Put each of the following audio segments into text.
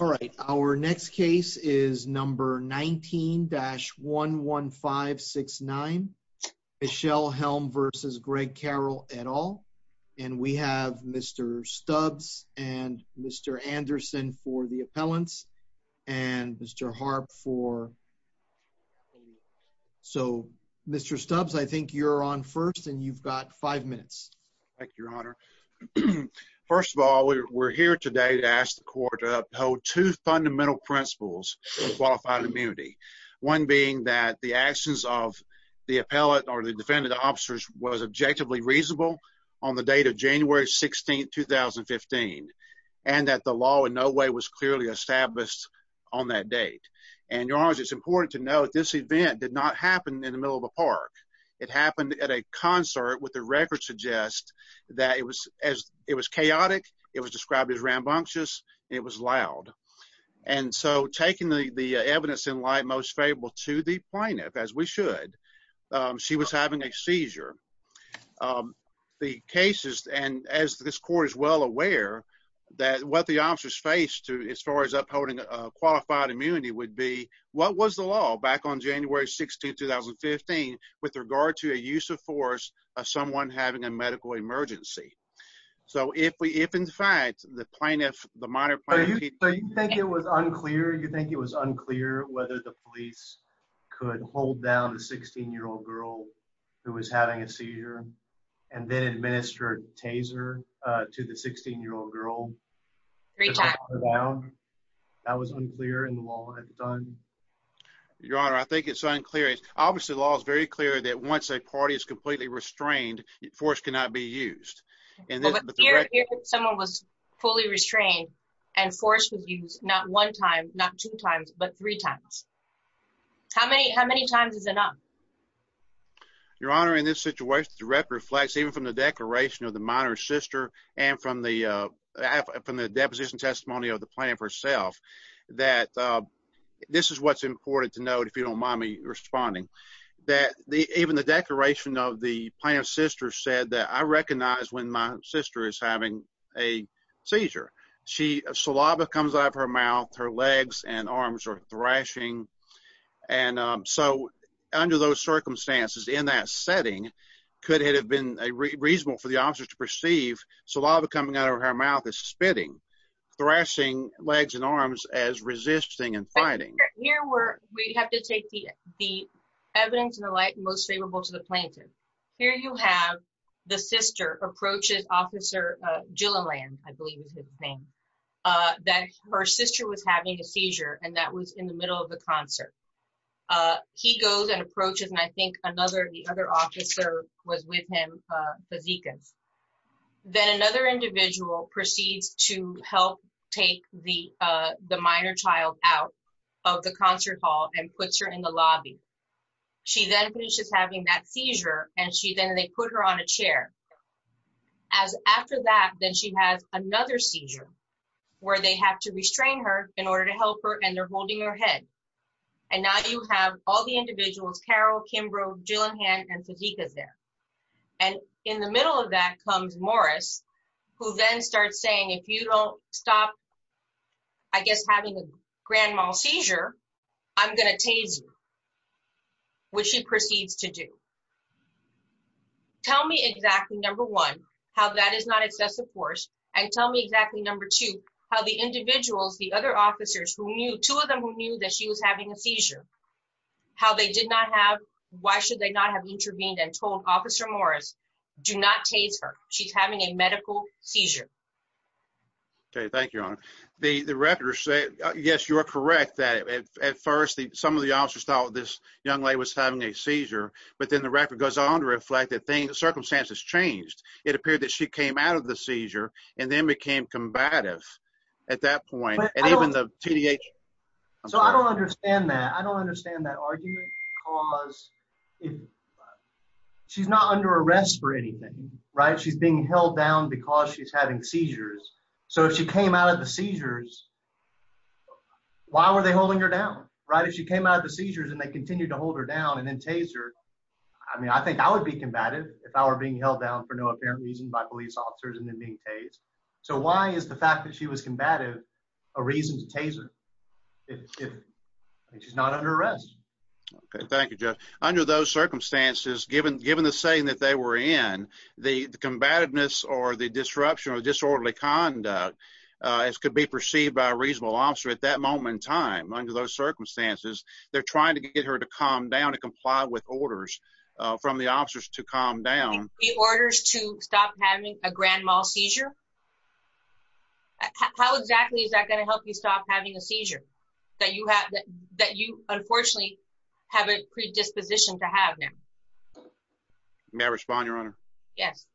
All right, our next case is number 19-11569. Michelle Helm versus Greg Carroll et al. And we have Mr. Stubbs and Mr. Anderson for the appellants and Mr. Harp for so Mr. Stubbs, I think you're on first and you've got five minutes. Thank you, Your Honor. First of all, we're here today to ask the court to uphold two fundamental principles of qualified immunity. One being that the actions of the appellate or the defendant officers was objectively reasonable on the date of January 16, 2015, and that the law in no way was clearly established on that date. And Your Honor, it's important to note this event did not happen in the middle of the park. It happened at a concert with the record suggest that it was as it was chaotic. It was described as rambunctious. It was loud. And so taking the evidence in light most favorable to the plaintiff as we should, she was having a seizure. The cases and as this court is well aware, that what the officers face to as far as upholding qualified immunity would be what was the law back on January 16, 2015, with regard to a use of force of someone having a medical emergency. So if we if in fact, the plaintiff, the monitor, you think it was unclear, you think it was unclear whether the police could hold down a 16 year old girl who was having a seizure and then administered taser to the 16 year old girl. That was unclear in the law at the time. Your Honor, I think it's unclear. Obviously, the law is very clear that once a party is completely restrained, force cannot be used and someone was fully restrained and forced to use not one time, not two times, but three times. How many? How many times is enough? Your Honor, in this situation, the record reflects even from the declaration of the minor sister and from the from the deposition testimony of the plan for self that this is what's important to note if you don't mind me responding, that the even the declaration of the plan of sister said that I recognize when my sister is having a seizure, she saliva comes out of her mouth, her legs and arms are thrashing. And so under those circumstances in that setting, could it have been a reasonable for the officer to perceive saliva coming out of her mouth is thrashing legs and arms as resisting and fighting? Here we're we have to take the the evidence in the light most favorable to the plaintiff. Here you have the sister approaches Officer Gilliland, I believe is his name, that her sister was having a seizure and that was in the middle of the concert. He goes and approaches and I think another the other officer was with him, the Zekas. Then another individual proceeds to help take the the minor child out of the concert hall and puts her in the lobby. She then finishes having that seizure and she then they put her on a chair. As after that, then she has another seizure, where they have to restrain her in order to help her and they're holding her head. And now you have all the individuals, Carol, Kimbrough, Gilliland, and Zekas there. And in the middle of that comes Morris, who then starts saying if you don't stop, I guess having a grand mal seizure, I'm going to tase you, which he proceeds to do. Tell me exactly number one, how that is not excessive force. And tell me exactly number two, how the individuals, the other officers who knew two of them who knew that she was having a seizure, how they did not have, why should they not have intervened and told Officer Morris, do not tase her. She's having a medical seizure. Okay, thank you, Your Honor. The the recorders say, yes, you're correct, that at first some of the officers thought this young lady was having a seizure. But then the record goes on to reflect that circumstances changed. It appeared that she came out of the seizure and then became combative at that point. And even the TDA. So I don't understand that. I don't understand that argument. Because if she's not under arrest for anything, right, she's being held down because she's having seizures. So if she came out of the seizures, why were they holding her down? Right? If she came out of the seizures, and they continue to hold her down and then tase her. I mean, I think I would be combative if I were being held down for no apparent reason by police officers and then being tased. So why is the fact that she was tased if she's not under arrest? Okay, thank you, Judge. Under those circumstances, given given the saying that they were in the combativeness or the disruption or disorderly conduct, as could be perceived by a reasonable officer at that moment in time, under those circumstances, they're trying to get her to calm down and comply with orders from the officers to calm down. The orders to stop having a grand mal seizure. How exactly is that going to help you stop having a seizure that you have that you unfortunately have a predisposition to have now? May I respond, Your Honor? Yes.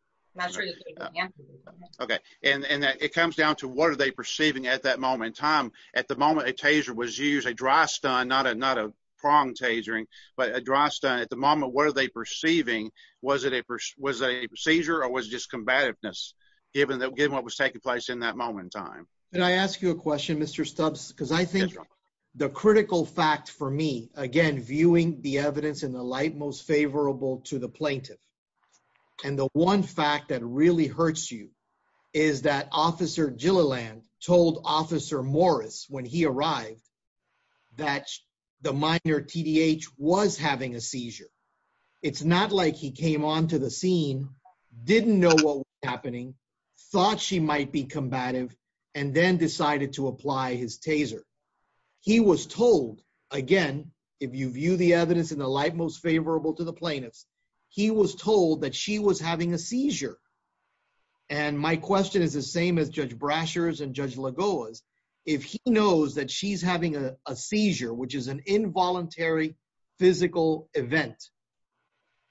Okay. And it comes down to what are they perceiving at that moment in time? At the moment a taser was used, a dry stun, not a not a pronged tasering, but a dry stun at the moment. What are they perceiving? Was it a was a seizure or was just combativeness given that given what was taking place in that moment in time? Can I ask you a question, Mr. Stubbs? Because I think the critical fact for me, again, viewing the evidence in the light most favorable to the plaintiff. And the one fact that really hurts you is that Officer Gilliland told Officer Morris when he arrived that the minor T.D.H. was having a seizure. It's not like he came onto the scene, didn't know what was happening, thought she might be combative, and then decided to apply his taser. He was told, again, if you view the evidence in the light most favorable to the plaintiffs, he was told that she was having a seizure. And my question is the same as Judge Brasher's and she's having a seizure, which is an involuntary physical event.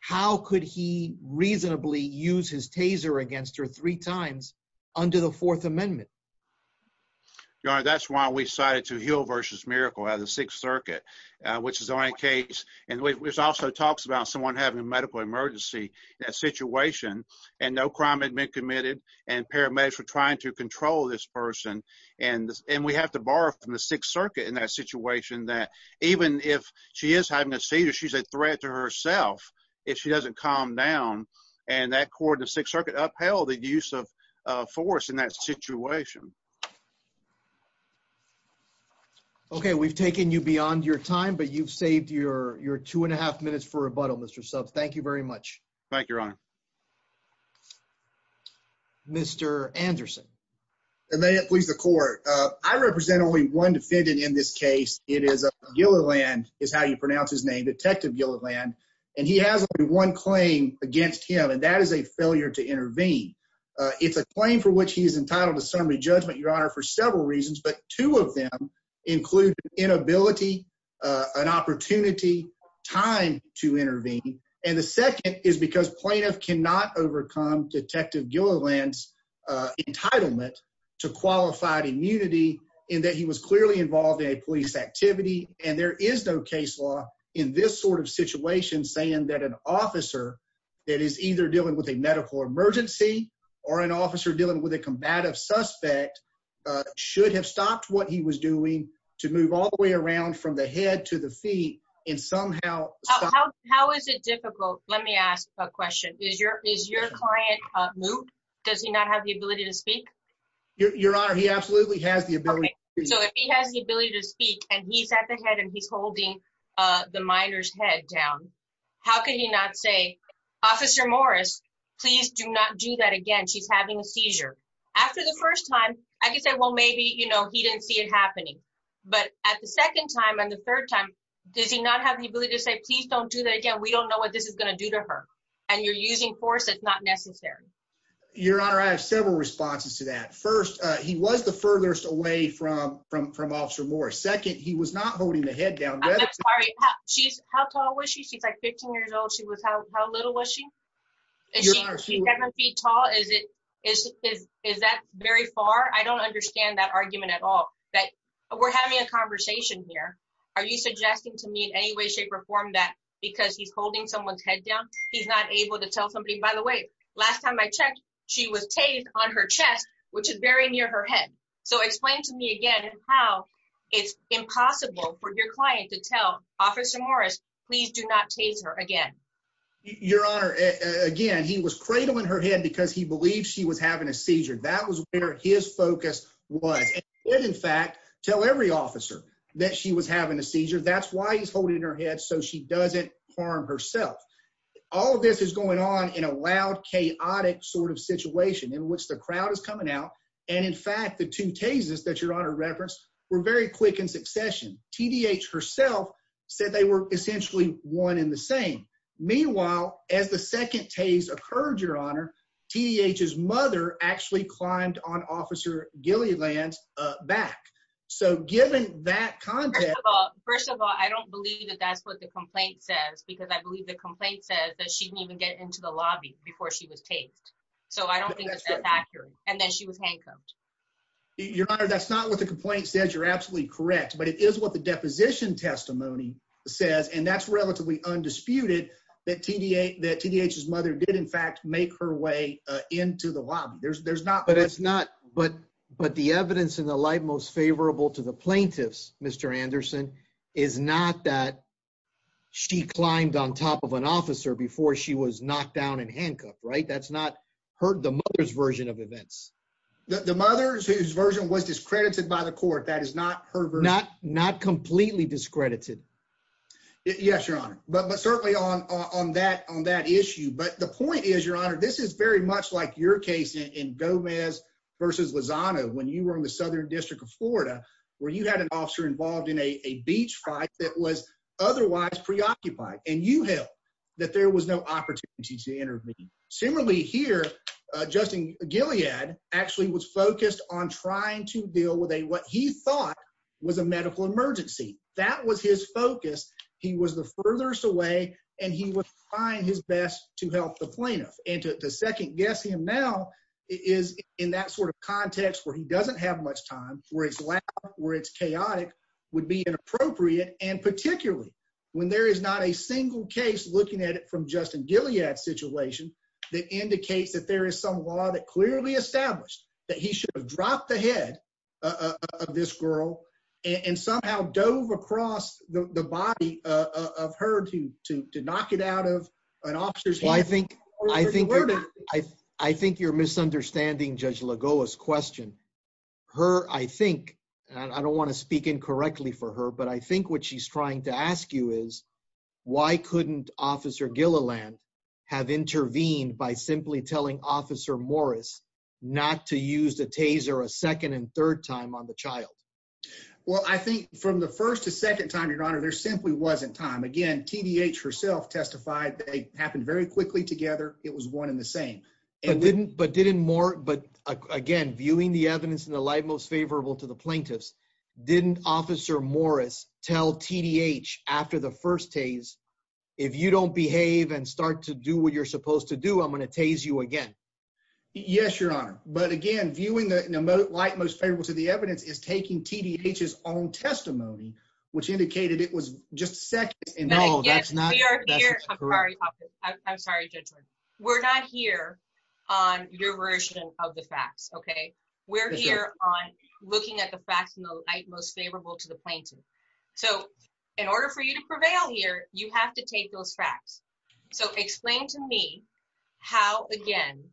How could he reasonably use his taser against her three times under the Fourth Amendment? Your Honor, that's why we decided to Heal versus Miracle out of the Sixth Circuit, which is the only case and which also talks about someone having a medical emergency in that situation and no crime had been committed and paramedics were trying to control this person. And we have to borrow from the Sixth Circuit in that situation that even if she is having a seizure, she's a threat to herself if she doesn't calm down. And that court in the Sixth Circuit upheld the use of force in that situation. Okay, we've taken you beyond your time, but you've saved your two and a half minutes for Mr. Anderson. And may it please the court. I represent only one defendant in this case. It is Gilliland, is how you pronounce his name, Detective Gilliland, and he has only one claim against him, and that is a failure to intervene. It's a claim for which he is entitled to summary judgment, Your Honor, for several reasons, but two of them include inability, an opportunity, time to intervene. And the second is because plaintiff cannot overcome Detective Gilliland's entitlement to qualified immunity in that he was clearly involved in a police activity. And there is no case law in this sort of situation saying that an officer that is either dealing with a medical emergency or an officer dealing with a combative suspect should have stopped what he was in somehow. How is it difficult? Let me ask a question. Is your client moved? Does he not have the ability to speak? Your Honor, he absolutely has the ability. So if he has the ability to speak and he's at the head and he's holding the minor's head down, how could he not say, Officer Morris, please do not do that again. She's having a seizure. After the first time, I could say, well, maybe, you know, he didn't see it happening. But at the second time and the third time, does he not have the ability to say, please don't do that again. We don't know what this is going to do to her. And you're using force that's not necessary. Your Honor, I have several responses to that. First, he was the furthest away from Officer Morris. Second, he was not holding the head down. She's how tall was she? She's like 15 years old. She was how little was she? She's seven feet tall. Is that very far? I don't understand that argument at all. We're having a conversation here. Are you suggesting to me in any way, shape or form that because he's holding someone's head down, he's not able to tell somebody, by the way, last time I checked, she was tased on her chest, which is very near her head. So explain to me again how it's impossible for your client to tell Officer Morris, please do not tase her again. Your Honor, again, he was cradling her head because he believed she was having a seizure. That was where his focus was. He did, in fact, tell every officer that she was having a seizure. That's why he's holding her head so she doesn't harm herself. All of this is going on in a loud, chaotic sort of situation in which the crowd is coming out. And in fact, the two tases that Your Honor referenced were very quick in succession. TDH herself said they were essentially one in the same. Meanwhile, as the second tase occurred, Your Honor, TDH's mother actually climbed on Officer Gilliland's back. So given that context... First of all, I don't believe that that's what the complaint says because I believe the complaint says that she didn't even get into the lobby before she was tased. So I don't think that's accurate. And then she was handcuffed. Your Honor, that's not what the complaint says. You're absolutely correct. But it is what the deposition testimony says. And that's relatively undisputed that TDH's mother did, in fact, make her way into the lobby. But the evidence in the light most favorable to the plaintiffs, Mr. Anderson, is not that she climbed on top of an officer before she was knocked down and handcuffed, right? That's not the mother's version of events. The mother's version was discredited by the court. That is not her version. Not completely discredited. Yes, Your Honor. But certainly on that issue. But the point is, Your Honor, this is very much like your case in Gomez v. Lozano when you were in the Southern District of Florida, where you had an officer involved in a beach fight that was otherwise preoccupied. And you held that there was no opportunity to intervene. Similarly here, Justin Gilead actually was focused on trying to deal with what he thought was a medical emergency. That was his focus. He was the furthest away, and he was trying his best to help the plaintiff. And to second guess him now is in that sort of context where he doesn't have much time, where it's loud, where it's chaotic, would be inappropriate. And particularly when there is not a single case looking at it from Justin Gilead's situation that indicates that there is some law that clearly established that he should have dropped the head of this girl and somehow dove across the body of her to knock it out of an officer's hand. I think you're misunderstanding Judge Lagoa's question. Her, I think, and I don't want to Why couldn't Officer Gilliland have intervened by simply telling Officer Morris not to use the taser a second and third time on the child? Well, I think from the first to second time, your honor, there simply wasn't time. Again, TDH herself testified they happened very quickly together. It was one in the same. And didn't, but didn't more, but again, viewing the evidence in the light most favorable to the If you don't behave and start to do what you're supposed to do, I'm going to tase you again. Yes, your honor. But again, viewing the light most favorable to the evidence is taking TDH's own testimony, which indicated it was just a second. And no, that's not We are here. I'm sorry. I'm sorry. We're not here on your version of the facts. Okay. We're here on looking at the facts in the light most favorable to the plaintiff. So in order for you to prevail here, you have to take those facts. So explain to me how, again,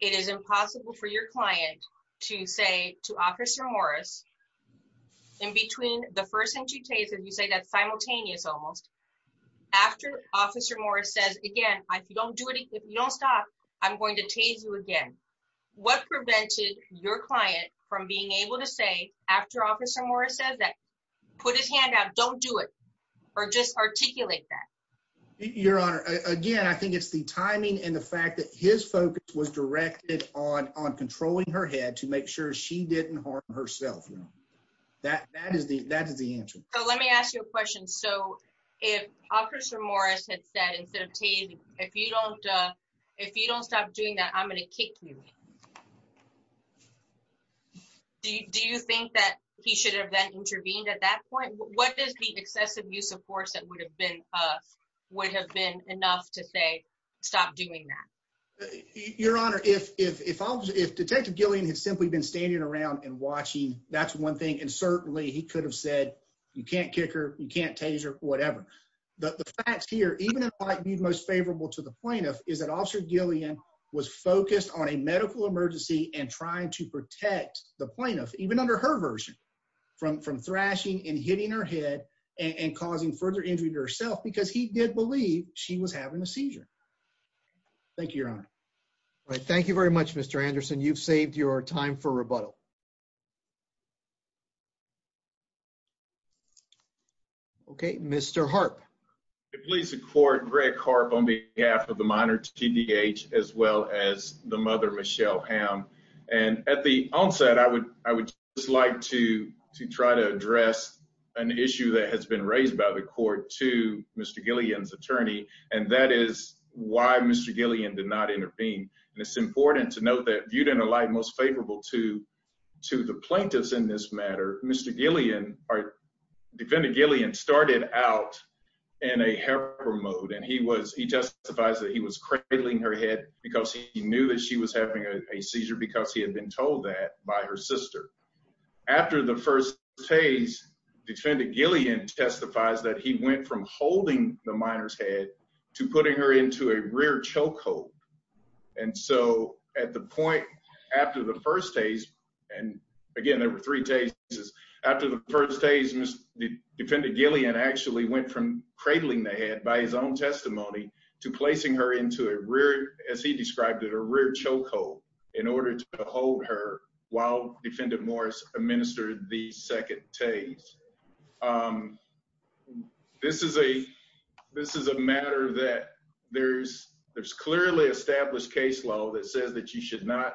it is impossible for your client to say to Officer Morris in between the first and two cases, you say that simultaneous almost after Officer Morris says, again, I don't do it. If you don't stop, I'm going to tase you again. What prevented your client from being able to say after Officer Morris says that put his hand out, don't do it, or just articulate that? Your honor, again, I think it's the timing and the fact that his focus was directed on controlling her head to make sure she didn't harm herself. That is the answer. So let me ask you a question. So if Officer Morris had said instead of tase, if you don't stop doing that, I'm going to kick you. Do you think that he should have then intervened at that point? What is the excessive use of force that would have been enough to say, stop doing that? Your honor, if Detective Gillian had simply been standing around and watching, that's one thing. And certainly he could have said, you can't kick her, you can't tase her, whatever. The facts here, even in light most favorable to the plaintiff, is that Officer and trying to protect the plaintiff, even under her version, from thrashing and hitting her head and causing further injury to herself because he did believe she was having a seizure. Thank you, your honor. All right. Thank you very much, Mr. Anderson. You've saved your time for rebuttal. Okay. Mr. Harp. It pleases the court, Greg Harp on behalf of the minor TDH as well as the mother, Michelle Ham. And at the onset, I would just like to try to address an issue that has been raised by the court to Mr. Gillian's attorney. And that is why Mr. Gillian did not intervene. And it's important to note that viewed in a light most favorable to the plaintiffs in this matter, Mr. Gillian, defendant Gillian started out in a helper mode. And he justifies that he was cradling her head because he knew that she was having a seizure because he had been told that by her sister. After the first tase, defendant Gillian testifies that he went from holding the minor's head to putting her into a rear chokehold. And so at the point after the first tase, and again, there were three tases, after the first tase, defendant Gillian actually went from cradling the head by his own testimony to placing her into a rear, as he described it, a rear chokehold in order to hold her while defendant Morris administered the second tase. This is a matter that there's clearly established case law that says that you should not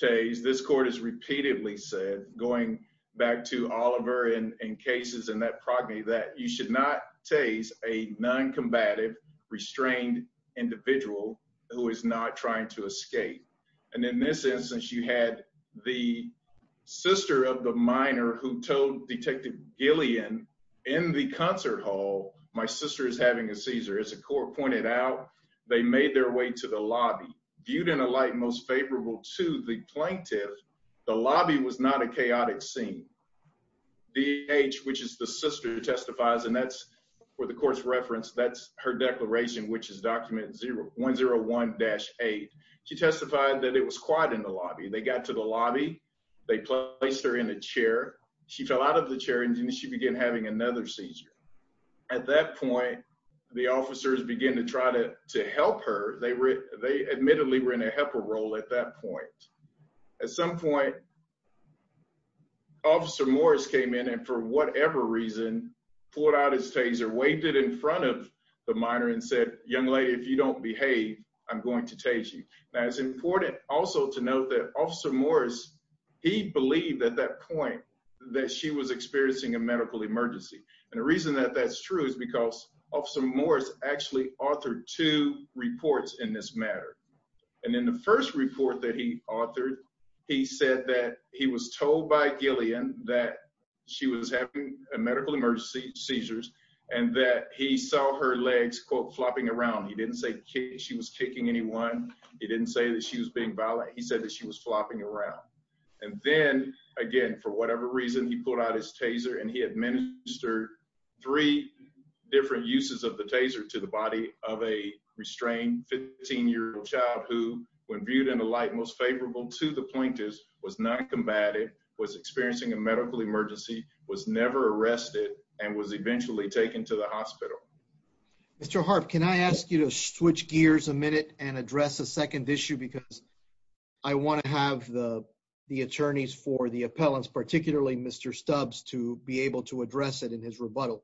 tase. This court has repeatedly said going back to Oliver and cases in that progeny that you should not tase a non-combative restrained individual who is not trying to escape. And in this instance, you had the sister of the minor who told detective Gillian in the concert hall, my sister is having a seizure. As the court pointed out, they made their way to the lobby. Viewed in a light most favorable to the plaintiff, the lobby was not a chaotic scene. D.H., which is the sister who testifies, and that's where the court's referenced, that's her declaration, which is document 0.01-8. She testified that it was quiet in the lobby. They got to the lobby, they placed her in a chair, she fell out of the chair, and then she began another seizure. At that point, the officers began to try to help her. They admittedly were in a helper role at that point. At some point, Officer Morris came in and for whatever reason pulled out his taser, waved it in front of the minor, and said, young lady, if you don't behave, I'm going to tase you. Now, it's important also to note that Officer Morris, he believed at that point that she was experiencing a medical emergency. And the reason that that's true is because Officer Morris actually authored two reports in this matter. And in the first report that he authored, he said that he was told by Gillian that she was having a medical emergency seizures, and that he saw her legs, quote, flopping around. He didn't say she was kicking anyone. He didn't say that she was being violent. He said that she was flopping around. And then, again, for whatever reason, he pulled out his taser, and he administered three different uses of the taser to the body of a restrained 15-year-old child who, when viewed in the light most favorable to the plaintiffs, was not combative, was experiencing a medical emergency, was never arrested, and was eventually taken to the hospital. Mr. Harp, can I ask you to switch gears a minute and address a second issue? Because I want to have the attorneys for the appellants, particularly Mr. Stubbs, to be able to address it in his rebuttal.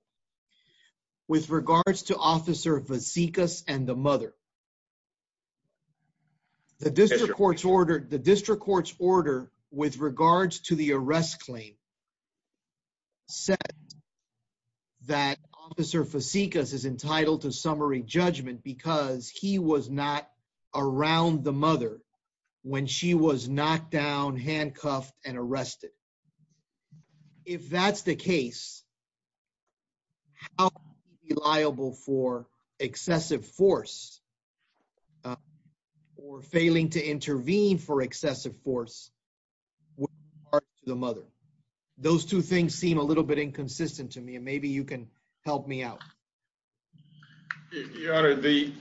With regards to Officer Vasikas and the mother, the district court's order with regards to the arrest claim said that Officer Vasikas is entitled to summary judgment because he was not around the mother when she was knocked down, handcuffed, and arrested. If that's the case, how can he be liable for excessive force or failing to intervene for excessive force with regard to the mother? Those two things seem a little bit inconsistent to me, and maybe you can help me out. Your Honor, the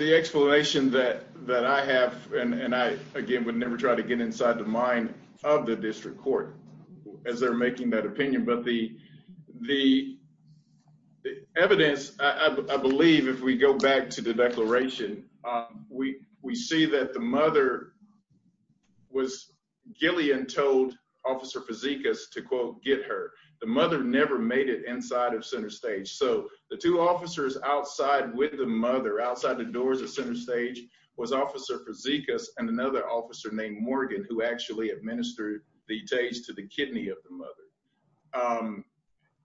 explanation that I have, and I, again, would never try to get inside the mind of the district court as they're making that opinion, but the evidence, I believe, if we go back to the declaration, we see that the mother was, Gillian told Officer Vasikas to, quote, get her. The mother never made it inside of Center Stage, so the two officers outside with the mother, outside the doors of Center Stage, was Officer Vasikas and another officer named Morgan, who actually administered the tase to the kidney of the mother.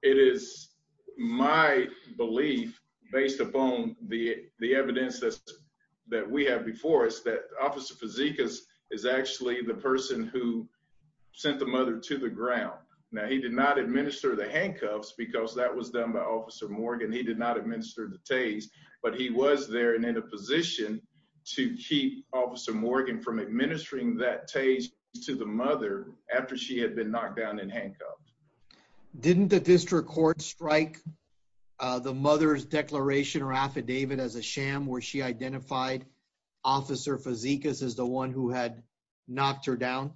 It is my belief, based upon the evidence that we have before us, that Officer Vasikas is actually the person who sent the mother to the ground. Now, he did not administer the handcuffs because that was done by Officer Morgan. He did not administer the tase, but he was there and in a position to keep Officer Morgan from administering that tase to the mother after she had been knocked down in handcuffs. Didn't the district court strike the mother's declaration or affidavit as a sham where she identified Officer Vasikas as the one who had knocked her down?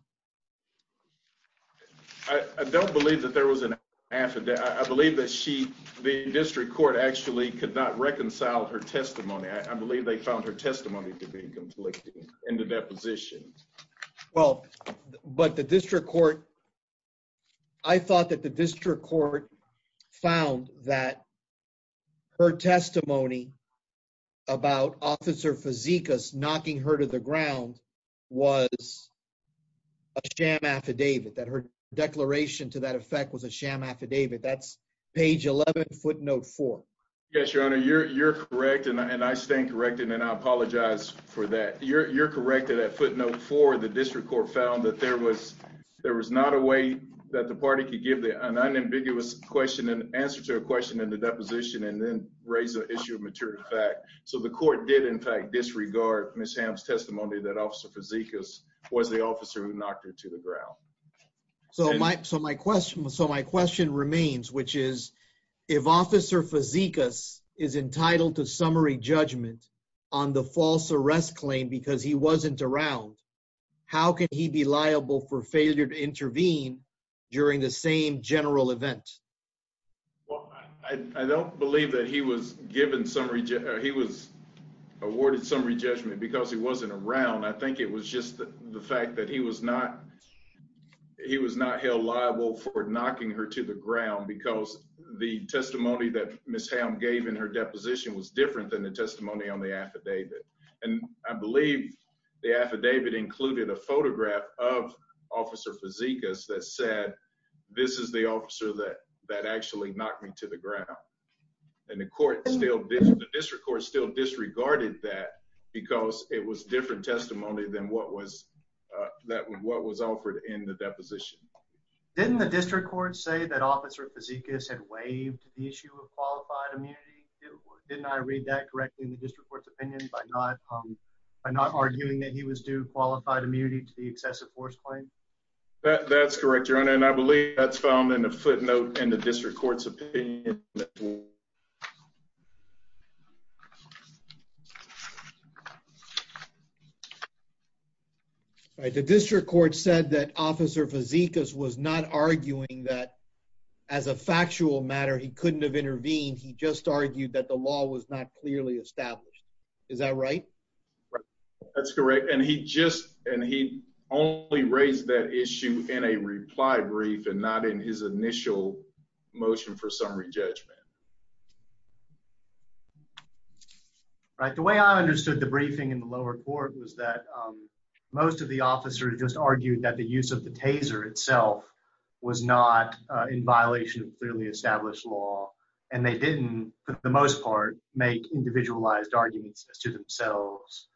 I don't believe that there was an affidavit. I believe that she, the district court, actually could not reconcile her testimony. I believe they found her testimony to be conflicting in the deposition. Well, but the district court, I thought that the district court found that her testimony about Officer Vasikas knocking her to the ground was a sham affidavit, that her declaration to that effect was a sham affidavit. That's page 11, footnote 4. Yes, Your Honor, you're correct and I stand corrected and I apologize for that. You're correct that at footnote 4, the district court found that there was not a way that the party could give an unambiguous question and answer to a question in the deposition and then raise an issue of mature fact. So the court did in fact disregard Ms. Hamm's testimony that Officer Vasikas was the officer who knocked her to the ground. So my question remains, which is, if Officer Vasikas is entitled to summary judgment on the false arrest claim because he wasn't around, how can he be liable for failure to intervene during the same general event? Well, I don't believe that he was awarded summary judgment because he wasn't around. I think it was just the fact that he was not held liable for knocking her to the ground because the testimony that Ms. Hamm gave in her deposition was different than the testimony on the affidavit. And I believe the affidavit included a photograph of Officer Vasikas that said, this is the officer that actually knocked me to the ground. And the district court still disregarded that because it was different testimony than what was offered in the deposition. Didn't the district court say that Officer Vasikas had waived the issue of qualified immunity? Didn't I read that correctly in the district court's opinion by not arguing that he was due qualified immunity to the excessive force claim? That's correct, Your Honor. And I believe that's found in a footnote in the district court's opinion. All right. The district court said that Officer Vasikas was not arguing that as a factual matter, he couldn't have intervened. He just argued that the law was not clearly established. Is that right? That's correct. And he only raised that issue in a reply brief and not in his initial motion for summary judgment. Right. The way I understood the briefing in the lower court was that most of the officers just argued that the use of the taser itself was not in violation of clearly established law. And they didn't, for the most part, make individualized arguments as to themselves.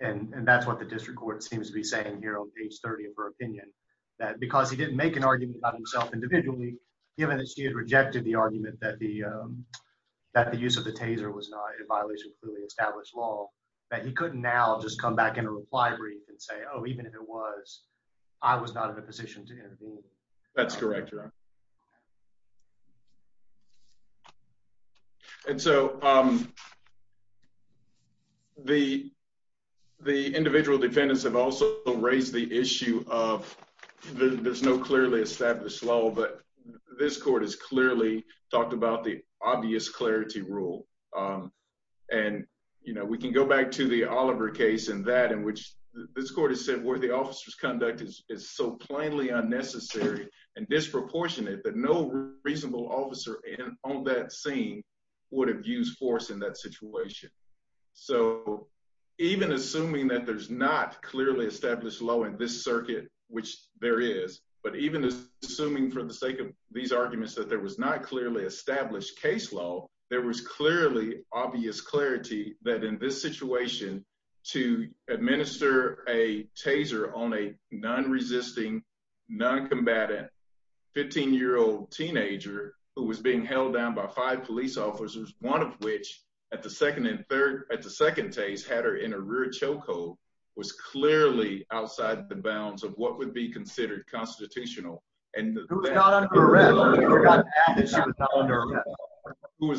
And that's what the district court seems to be saying here on page 30 of her opinion, that because he didn't make an argument about himself individually, given that she had rejected the argument that the use of the taser was not in violation of clearly established law, that he couldn't now just come back in a reply brief and say, oh, even if it was, I was not in a position to intervene. That's correct, Your Honor. And so the individual defendants have also raised the issue of there's no clearly established law, but this court has clearly talked about the obvious clarity rule. And we can go back to the Oliver case and that in which this court has said where the officer's conduct is so plainly seen would have used force in that situation. So even assuming that there's not clearly established law in this circuit, which there is, but even assuming for the sake of these arguments that there was not clearly established case law, there was clearly obvious clarity that in this situation to administer a taser on a non-resisting, non-combatant 15-year-old teenager who was being held down by five police officers, one of which at the second and third, at the second taser had her in a rear chokehold was clearly outside the bounds of what would be considered constitutional. Who was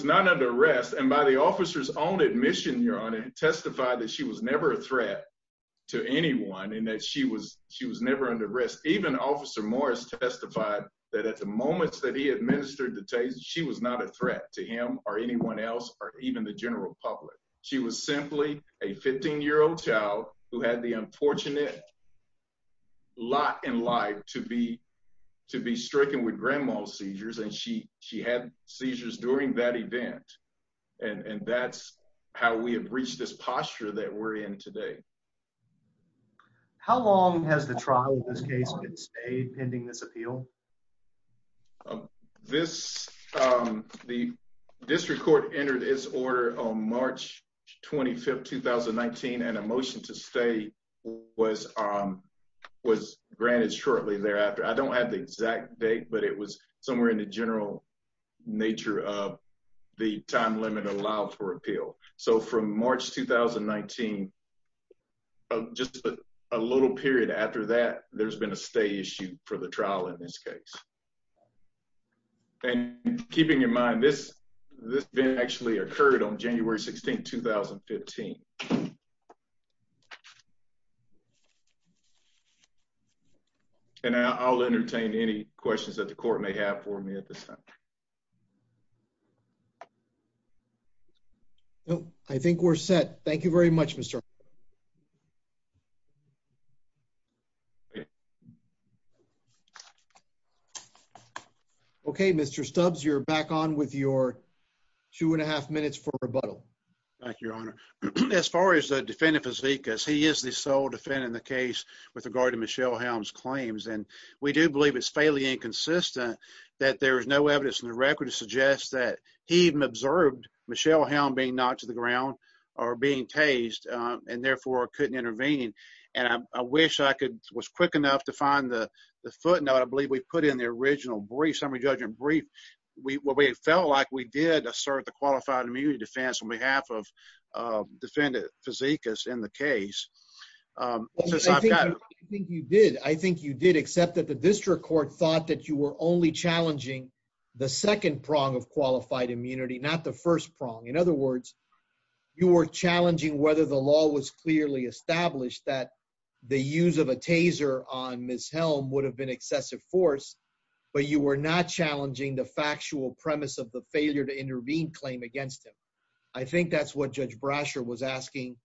not under arrest and by the officer's own admission, Your Honor, testified that she was never a threat to anyone and that she was never under arrest. Even Officer Morris testified that the moments that he administered the taser, she was not a threat to him or anyone else, or even the general public. She was simply a 15-year-old child who had the unfortunate lot in life to be, to be stricken with grandma's seizures. And she, she had seizures during that event. And that's how we have reached this posture that we're in today. How long has the trial in this case been staying pending this appeal? This, the district court entered its order on March 25th, 2019 and a motion to stay was, was granted shortly thereafter. I don't have the exact date, but it was somewhere in the general nature of the time limit allowed for appeal. So from March, 2019, just a little period after that, there's been a stay issue for the trial in this case. And keeping in mind this, this event actually occurred on January 16th, 2015. And I'll entertain any questions that the court may have for me at this time. No, I think we're set. Thank you very much, Mr. Okay, Mr. Stubbs, you're back on with your two and a half minutes for rebuttal. Thank you, Your Honor. As far as the defendant, Vizekas, he is the sole defendant in the case with regard to Michelle Helms' claims. And we do believe it's fairly inconsistent that there is no evidence in the record to suggest that he even observed Michelle Helms being knocked to the ground or being tased and therefore couldn't intervene. And I wish I could, was quick enough to find the footnote. I believe we put in the original brief, summary judgment brief. We felt like we did assert the qualified immunity defense on behalf of defendant Vizekas in the case. I think you did. I think you did accept that the district court thought that you were only challenging the second prong of qualified immunity, not the first prong. In other words, you were challenging whether the law was clearly established that the use of a taser on Ms. Helms would have been excessive force, but you were not challenging the factual premise of the failure to intervene claim against him. I think that's what Judge Brasher was asking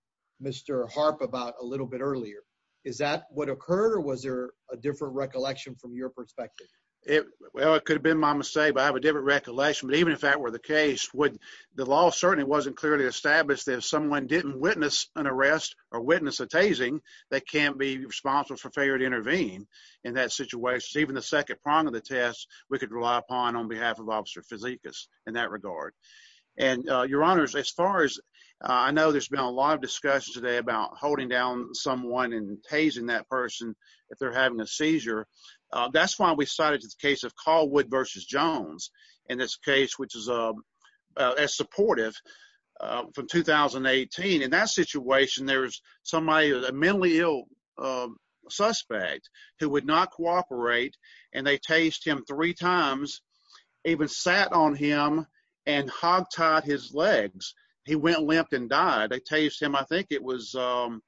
Mr. Harp about a little bit earlier. Is that what occurred or was there a recollection from your perspective? Well, it could have been my mistake, but I have a different recollection. But even if that were the case, the law certainly wasn't clearly established that if someone didn't witness an arrest or witness a tasing, they can't be responsible for failure to intervene in that situation. Even the second prong of the test, we could rely upon on behalf of Officer Vizekas in that regard. And your honors, as far as I know, there's been a lot of discussion today about holding down someone and tasing that person if they're having a seizure. That's why we started to the case of Calwood versus Jones in this case, which is as supportive from 2018. In that situation, there's somebody, a mentally ill suspect who would not cooperate. And they tased him three times, even sat on him and hogtied his legs. He went limp and died. They tased him, I think it was, I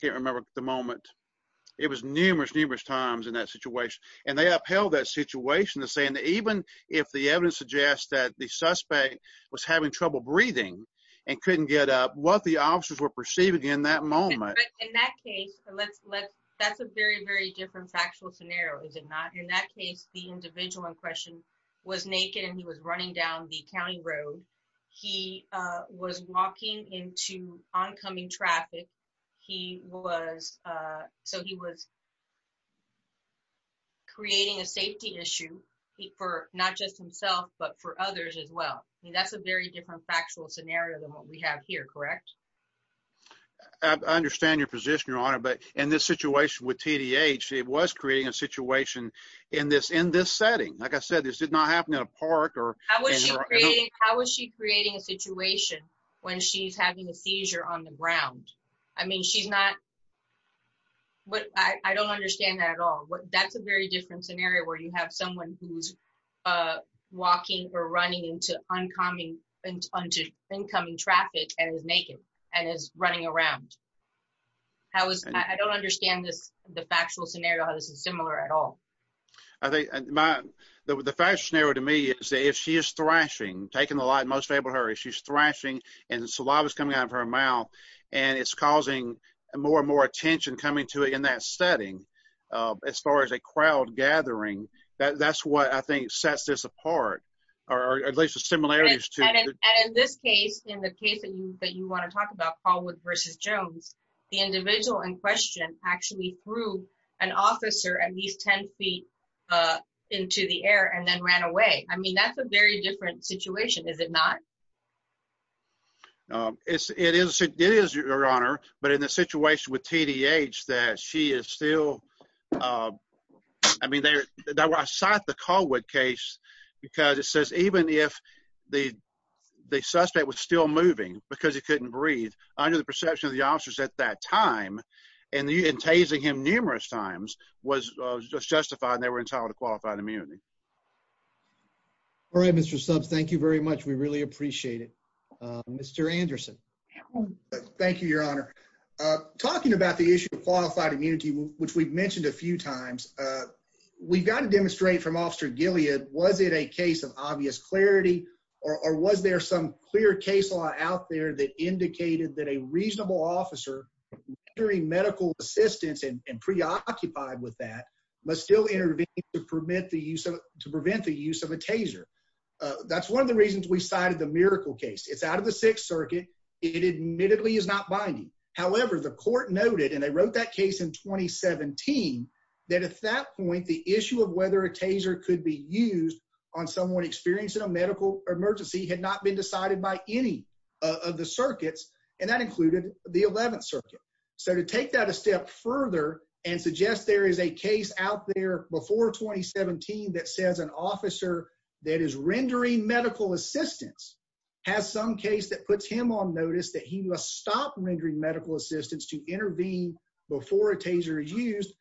can't remember the moment. It was numerous, numerous times in that situation. And they upheld that situation to say, and even if the evidence suggests that the suspect was having trouble breathing and couldn't get up, what the officers were perceiving in that moment. In that case, that's a very, very different factual scenario, is it not? In that case, the individual in question was naked and he was running down the county road. He was walking into oncoming traffic. He was, so he was creating a safety issue for not just himself, but for others as well. I mean, that's a very different factual scenario than what we have here, correct? I understand your position, Your Honor, but in this situation with TDH, it was creating a situation in this setting. Like I said, this did not happen in a park or- How is she creating a situation when she's having a seizure on the ground? I mean, she's not, what, I don't understand that at all. That's a very different scenario where you have someone who's walking or running into incoming traffic and is naked and is running around. How is, I don't understand this, the factual scenario, how this is similar at all. I think my, the factual scenario to me is that if she is thrashing, taking the light most able to her, if she's thrashing and saliva's coming out of her mouth and it's causing more and more attention coming to it in that setting, as far as a crowd gathering, that's what I think sets this apart, or at least the similarities to- And in this case, in the case that you want to talk about, Callwood versus Jones, the individual in question actually threw an into the air and then ran away. I mean, that's a very different situation, is it not? It is, Your Honor, but in the situation with T.D.H. that she is still, I mean, I cite the Callwood case because it says even if the suspect was still moving because he couldn't breathe, under the perception of the officers at that time, and tasing him numerous times, was justified and they were entitled to qualified immunity. All right, Mr. Stubbs, thank you very much. We really appreciate it. Mr. Anderson. Thank you, Your Honor. Talking about the issue of qualified immunity, which we've mentioned a few times, we've got to demonstrate from Officer Gilead, was it a case of obvious clarity, or was there some clear case law out there that occupied with that, but still intervened to prevent the use of a taser? That's one of the reasons we cited the Miracle case. It's out of the Sixth Circuit. It admittedly is not binding. However, the court noted, and they wrote that case in 2017, that at that point, the issue of whether a taser could be used on someone experiencing a medical emergency had not been decided by any of the circuits, and that included the Eleventh Circuit. So to take that step further and suggest there is a case out there before 2017 that says an officer that is rendering medical assistance has some case that puts him on notice that he must stop rendering medical assistance to intervene before a taser is used,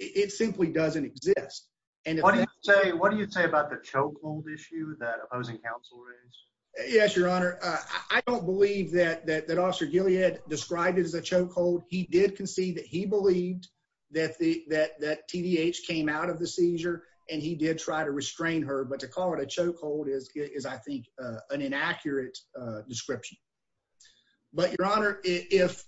it simply doesn't exist. What do you say about the chokehold issue that opposing counsel raised? Yes, Your Honor. I don't believe that Officer Gilead described it as a chokehold. He did concede that he believed that TDH came out of the seizure, and he did try to restrain her, but to call it a chokehold is, I think, an inaccurate description. But, Your Honor, if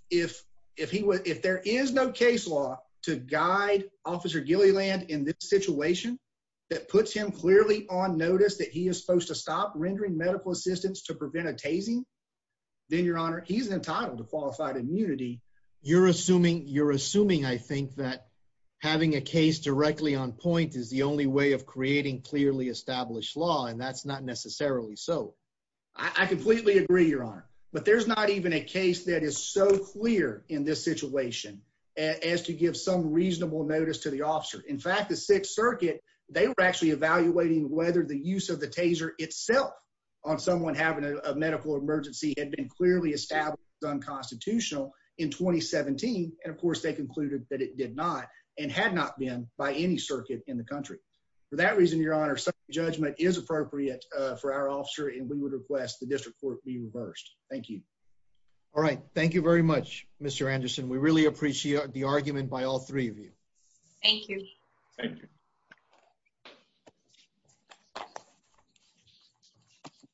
there is no case law to guide Officer Gilead in this situation that puts him clearly on notice that he is supposed to stop rendering medical assistance to prevent a tasing, then, Your Honor, he's entitled to qualified immunity. You're assuming, I think, that having a case directly on point is the only way of creating clearly established law, and that's not necessarily so. I completely agree, Your Honor, but there's not even a case that is so clear in this situation as to give some reasonable notice to the officer. In fact, the Sixth Circuit, they were actually evaluating whether the use of the taser itself on someone having a medical emergency had been clearly established unconstitutional in 2017, and, of course, they concluded that it did not and had not been by any circuit in the country. For that reason, Your Honor, some judgment is appropriate for our officer, and we would request the district court be reversed. Thank you. All right. Thank you very much, Mr. Anderson. We really appreciate the argument by all three of you. Thank you. Thank you.